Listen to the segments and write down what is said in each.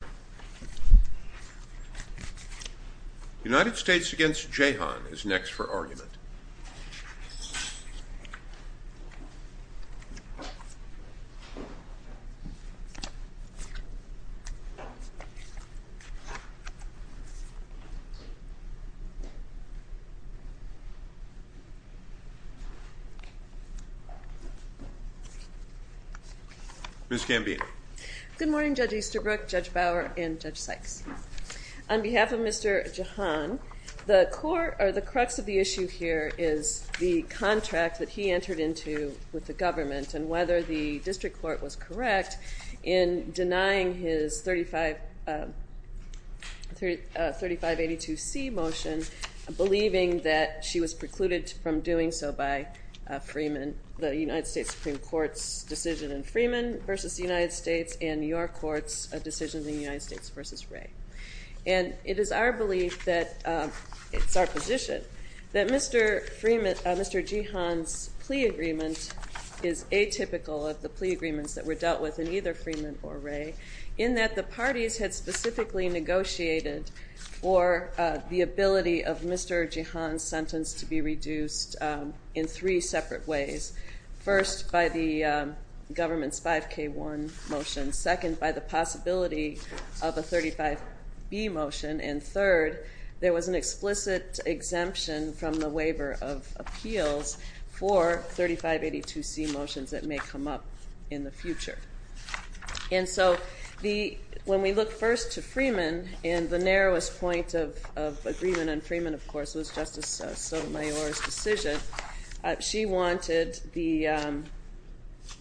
The United States v. Jehan is next for argument. Ms. Gambino. Good morning, Judge Easterbrook, Judge Bower, and Judge Sykes. On behalf of Mr. Jehan, the crux of the issue here is the contract that he entered into with the government and whether the district court was correct in denying his 3582C motion, believing that she was precluded from doing so by the United States Supreme Court's decision in Freeman v. United States and your court's decision in United States v. Wray. And it is our position that Mr. Jehan's plea agreement is atypical of the plea agreements that were dealt with in either Freeman or Wray in that the parties had specifically negotiated for the ability of Mr. Jehan's sentence to be reduced in three separate ways. First, by the government's 5K1 motion. Second, by the possibility of a 35B motion. And third, there was an explicit exemption from the waiver of appeals for 3582C motions that may come up in the future. And so when we look first to Freeman, and the narrowest point of agreement on Freeman, of course, was Justice Sotomayor's decision, she wanted the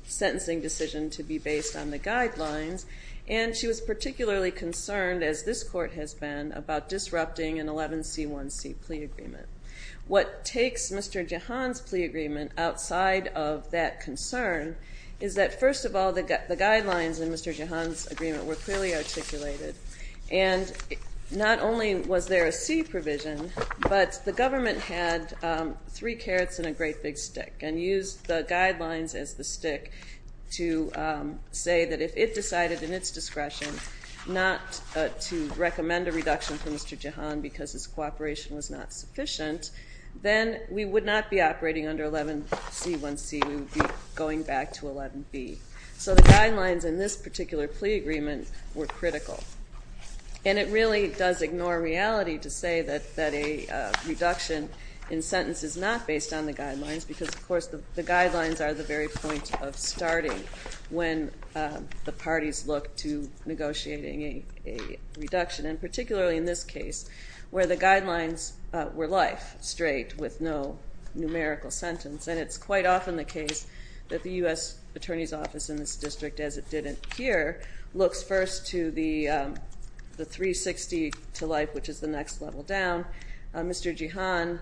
sentencing decision to be based on the guidelines, and she was particularly concerned, as this court has been, about disrupting an 11C1C plea agreement. What takes Mr. Jehan's plea agreement outside of that concern is that, first of all, the guidelines in Mr. Jehan's agreement were clearly articulated. And not only was there a C provision, but the government had three carrots and a great big stick, and used the guidelines as the stick to say that if it decided in its discretion not to recommend a reduction for Mr. Jehan because his cooperation was not sufficient, then we would not be operating under 11C1C, we would be going back to 11B. So the guidelines in this particular plea agreement were critical. And it really does ignore reality to say that a reduction in sentence is not based on the guidelines because, of course, the guidelines are the very point of starting when the parties look to negotiating a reduction, and particularly in this case, where the guidelines were life straight with no numerical sentence, and it's quite often the case that the U.S. Attorney's Office in this district, as it did in here, looks first to the 360 to life, which is the next level down. Mr. Jehan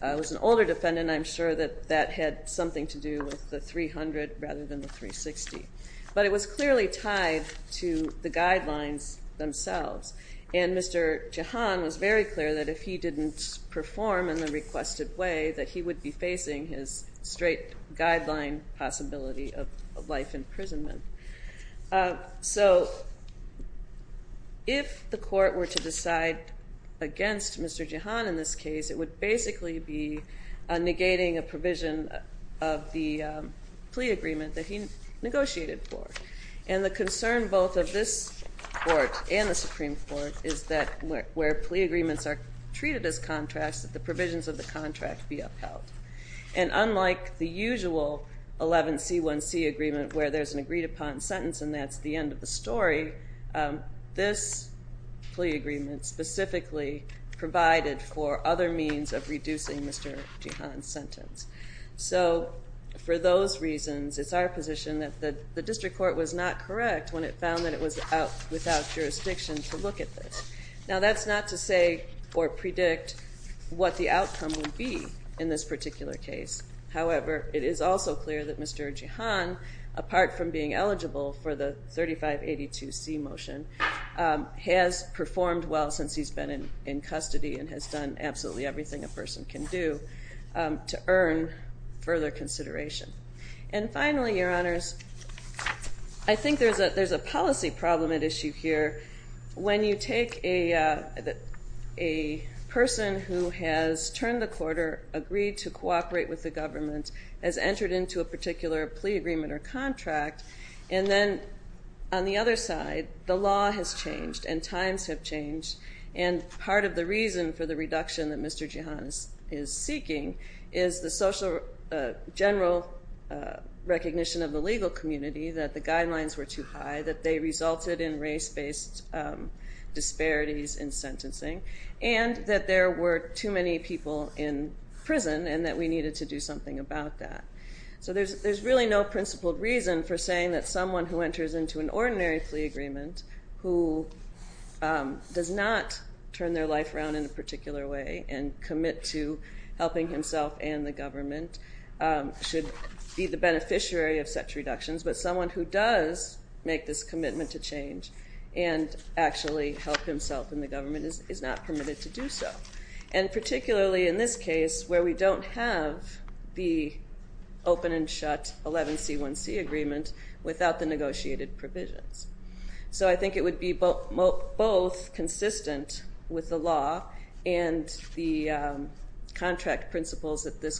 was an older defendant. I'm sure that that had something to do with the 300 rather than the 360. But it was clearly tied to the guidelines themselves, and Mr. Jehan was very clear that if he didn't perform in the requested way, that he would be facing his straight guideline possibility of life imprisonment. So if the court were to decide against Mr. Jehan in this case, it would basically be negating a provision of the plea agreement that he negotiated for. And the concern both of this court and the Supreme Court is that where plea agreements are treated as contracts, that the provisions of the contract be upheld. And unlike the usual 11C1C agreement, where there's an agreed-upon sentence and that's the end of the story, this plea agreement specifically provided for other means of reducing Mr. Jehan's sentence. So for those reasons, it's our position that the district court was not correct when it found that it was without jurisdiction to look at this. Now that's not to say or predict what the outcome will be in this particular case. However, it is also clear that Mr. Jehan, apart from being eligible for the 3582C motion, has performed well since he's been in custody and has done absolutely everything a person can do to earn further consideration. And finally, Your Honors, I think there's a policy problem at issue here. When you take a person who has turned the quarter, agreed to cooperate with the government, has entered into a particular plea agreement or contract, and then on the other side, the law has changed and times have changed. And part of the reason for the reduction that Mr. Jehan is seeking is the social general recognition of the legal community that the guidelines were too high, that they resulted in race-based disparities in sentencing, and that there were too many people in prison and that we needed to do something about that. So there's really no principled reason for saying that someone who enters into an ordinary plea agreement, who does not turn their life around in a particular way and commit to helping himself and the government, should be the beneficiary of such reductions. But someone who does make this commitment to change and actually help himself and the government is not permitted to do so. And particularly in this case, where we don't have the open and shut 11C1C agreement without the negotiated provisions. So I think it would be both consistent with the law and the contract principles that this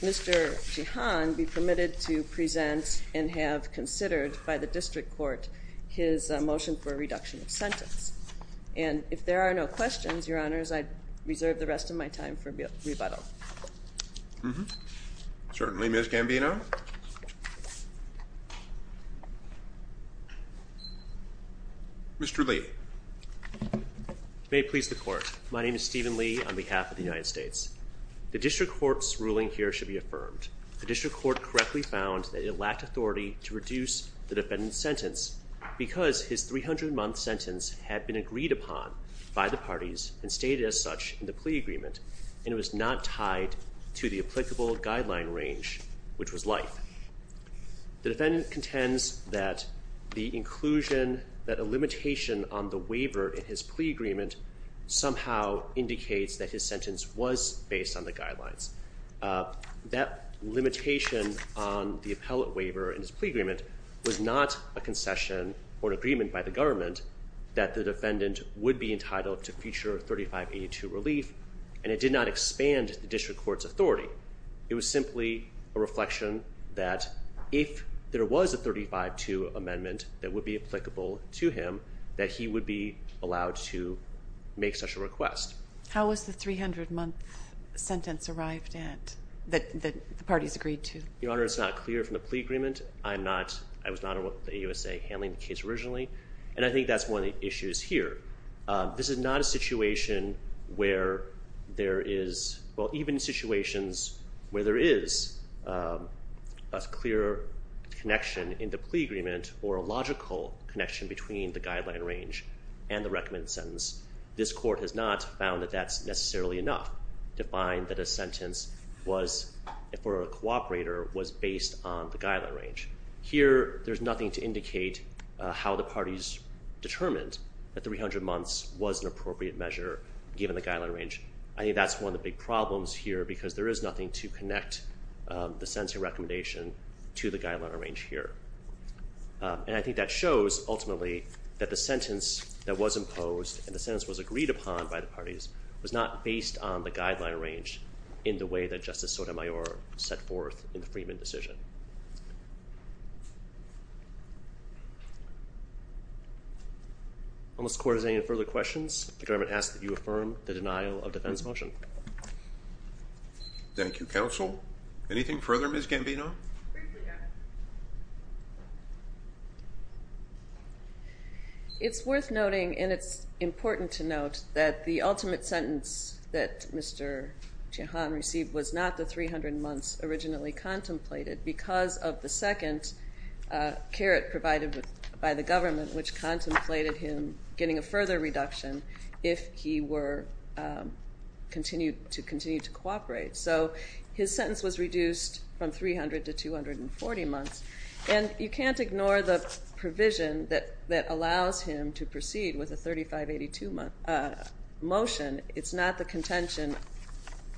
Mr. Jehan be permitted to present and have considered by the district court his motion for a reduction of sentence. And if there are no questions, Your Honors, I reserve the rest of my time for rebuttal. Certainly, Ms. Gambino. Mr. Lee. May it please the Court. My name is Stephen Lee on behalf of the United States. The district court's ruling here should be affirmed. The district court correctly found that it lacked authority to reduce the defendant's sentence because his 300-month sentence had been agreed upon by the parties and stated as such in the plea agreement and it was not tied to the applicable guideline range, which was life. The defendant contends that the inclusion, that a limitation on the waiver in his plea agreement somehow indicates that his sentence was based on the guidelines. That limitation on the appellate waiver in his plea agreement was not a concession or an agreement by the government that the defendant would be entitled to future 3582 relief and it did not expand the district court's authority. It was simply a reflection that if there was a 3582 amendment that would be applicable to him that he would be allowed to make such a request. How was the 300-month sentence arrived at that the parties agreed to? Your Honor, it's not clear from the plea agreement. I was not on the AUSA handling the case originally and I think that's one of the issues here. This is not a situation where there is, well, even situations where there is a clear connection in the plea agreement or a logical connection between the guideline range and the recommended sentence. This court has not found that that's necessarily enough to find that a sentence for a cooperator was based on the guideline range. Here there's nothing to indicate how the parties determined that 300 months was an appropriate measure given the guideline range. I think that's one of the big problems here because there is nothing to connect the sentencing recommendation to the guideline range here. And I think that shows ultimately that the sentence that was imposed and the sentence was agreed upon by the parties was not based on the guideline range in the way that Justice Sotomayor set forth in the Freedman decision. Unless the court has any further questions, the government asks that you affirm the denial of defense motion. Thank you, counsel. Anything further, Ms. Gambino? It's worth noting, and it's important to note, that the ultimate sentence that Mr. Jehan received was not the 300 months originally contemplated because of the second caret provided by the government which contemplated him getting a further reduction if he were to continue to cooperate. So his sentence was reduced from 300 to 240 months. And you can't ignore the provision that allows him to proceed with a 3582 motion. It's not the contention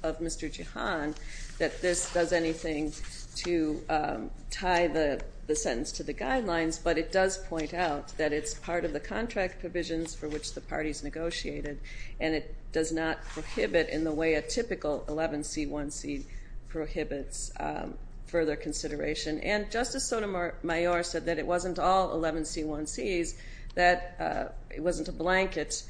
of Mr. Jehan that this does anything to tie the sentence to the guidelines, but it does point out that it's part of the contract provisions for which the parties negotiated, and it does not prohibit in the way a typical 11C1C prohibits further consideration. And Justice Sotomayor said that it wasn't all 11C1Cs, that it wasn't a blanket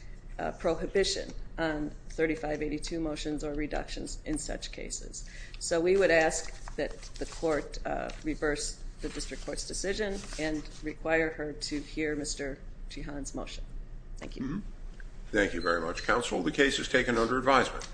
prohibition on 3582 motions or reductions in such cases. So we would ask that the court reverse the district court's decision and require her to hear Mr. Jehan's motion. Thank you. Thank you very much, counsel. The case is taken under advisement.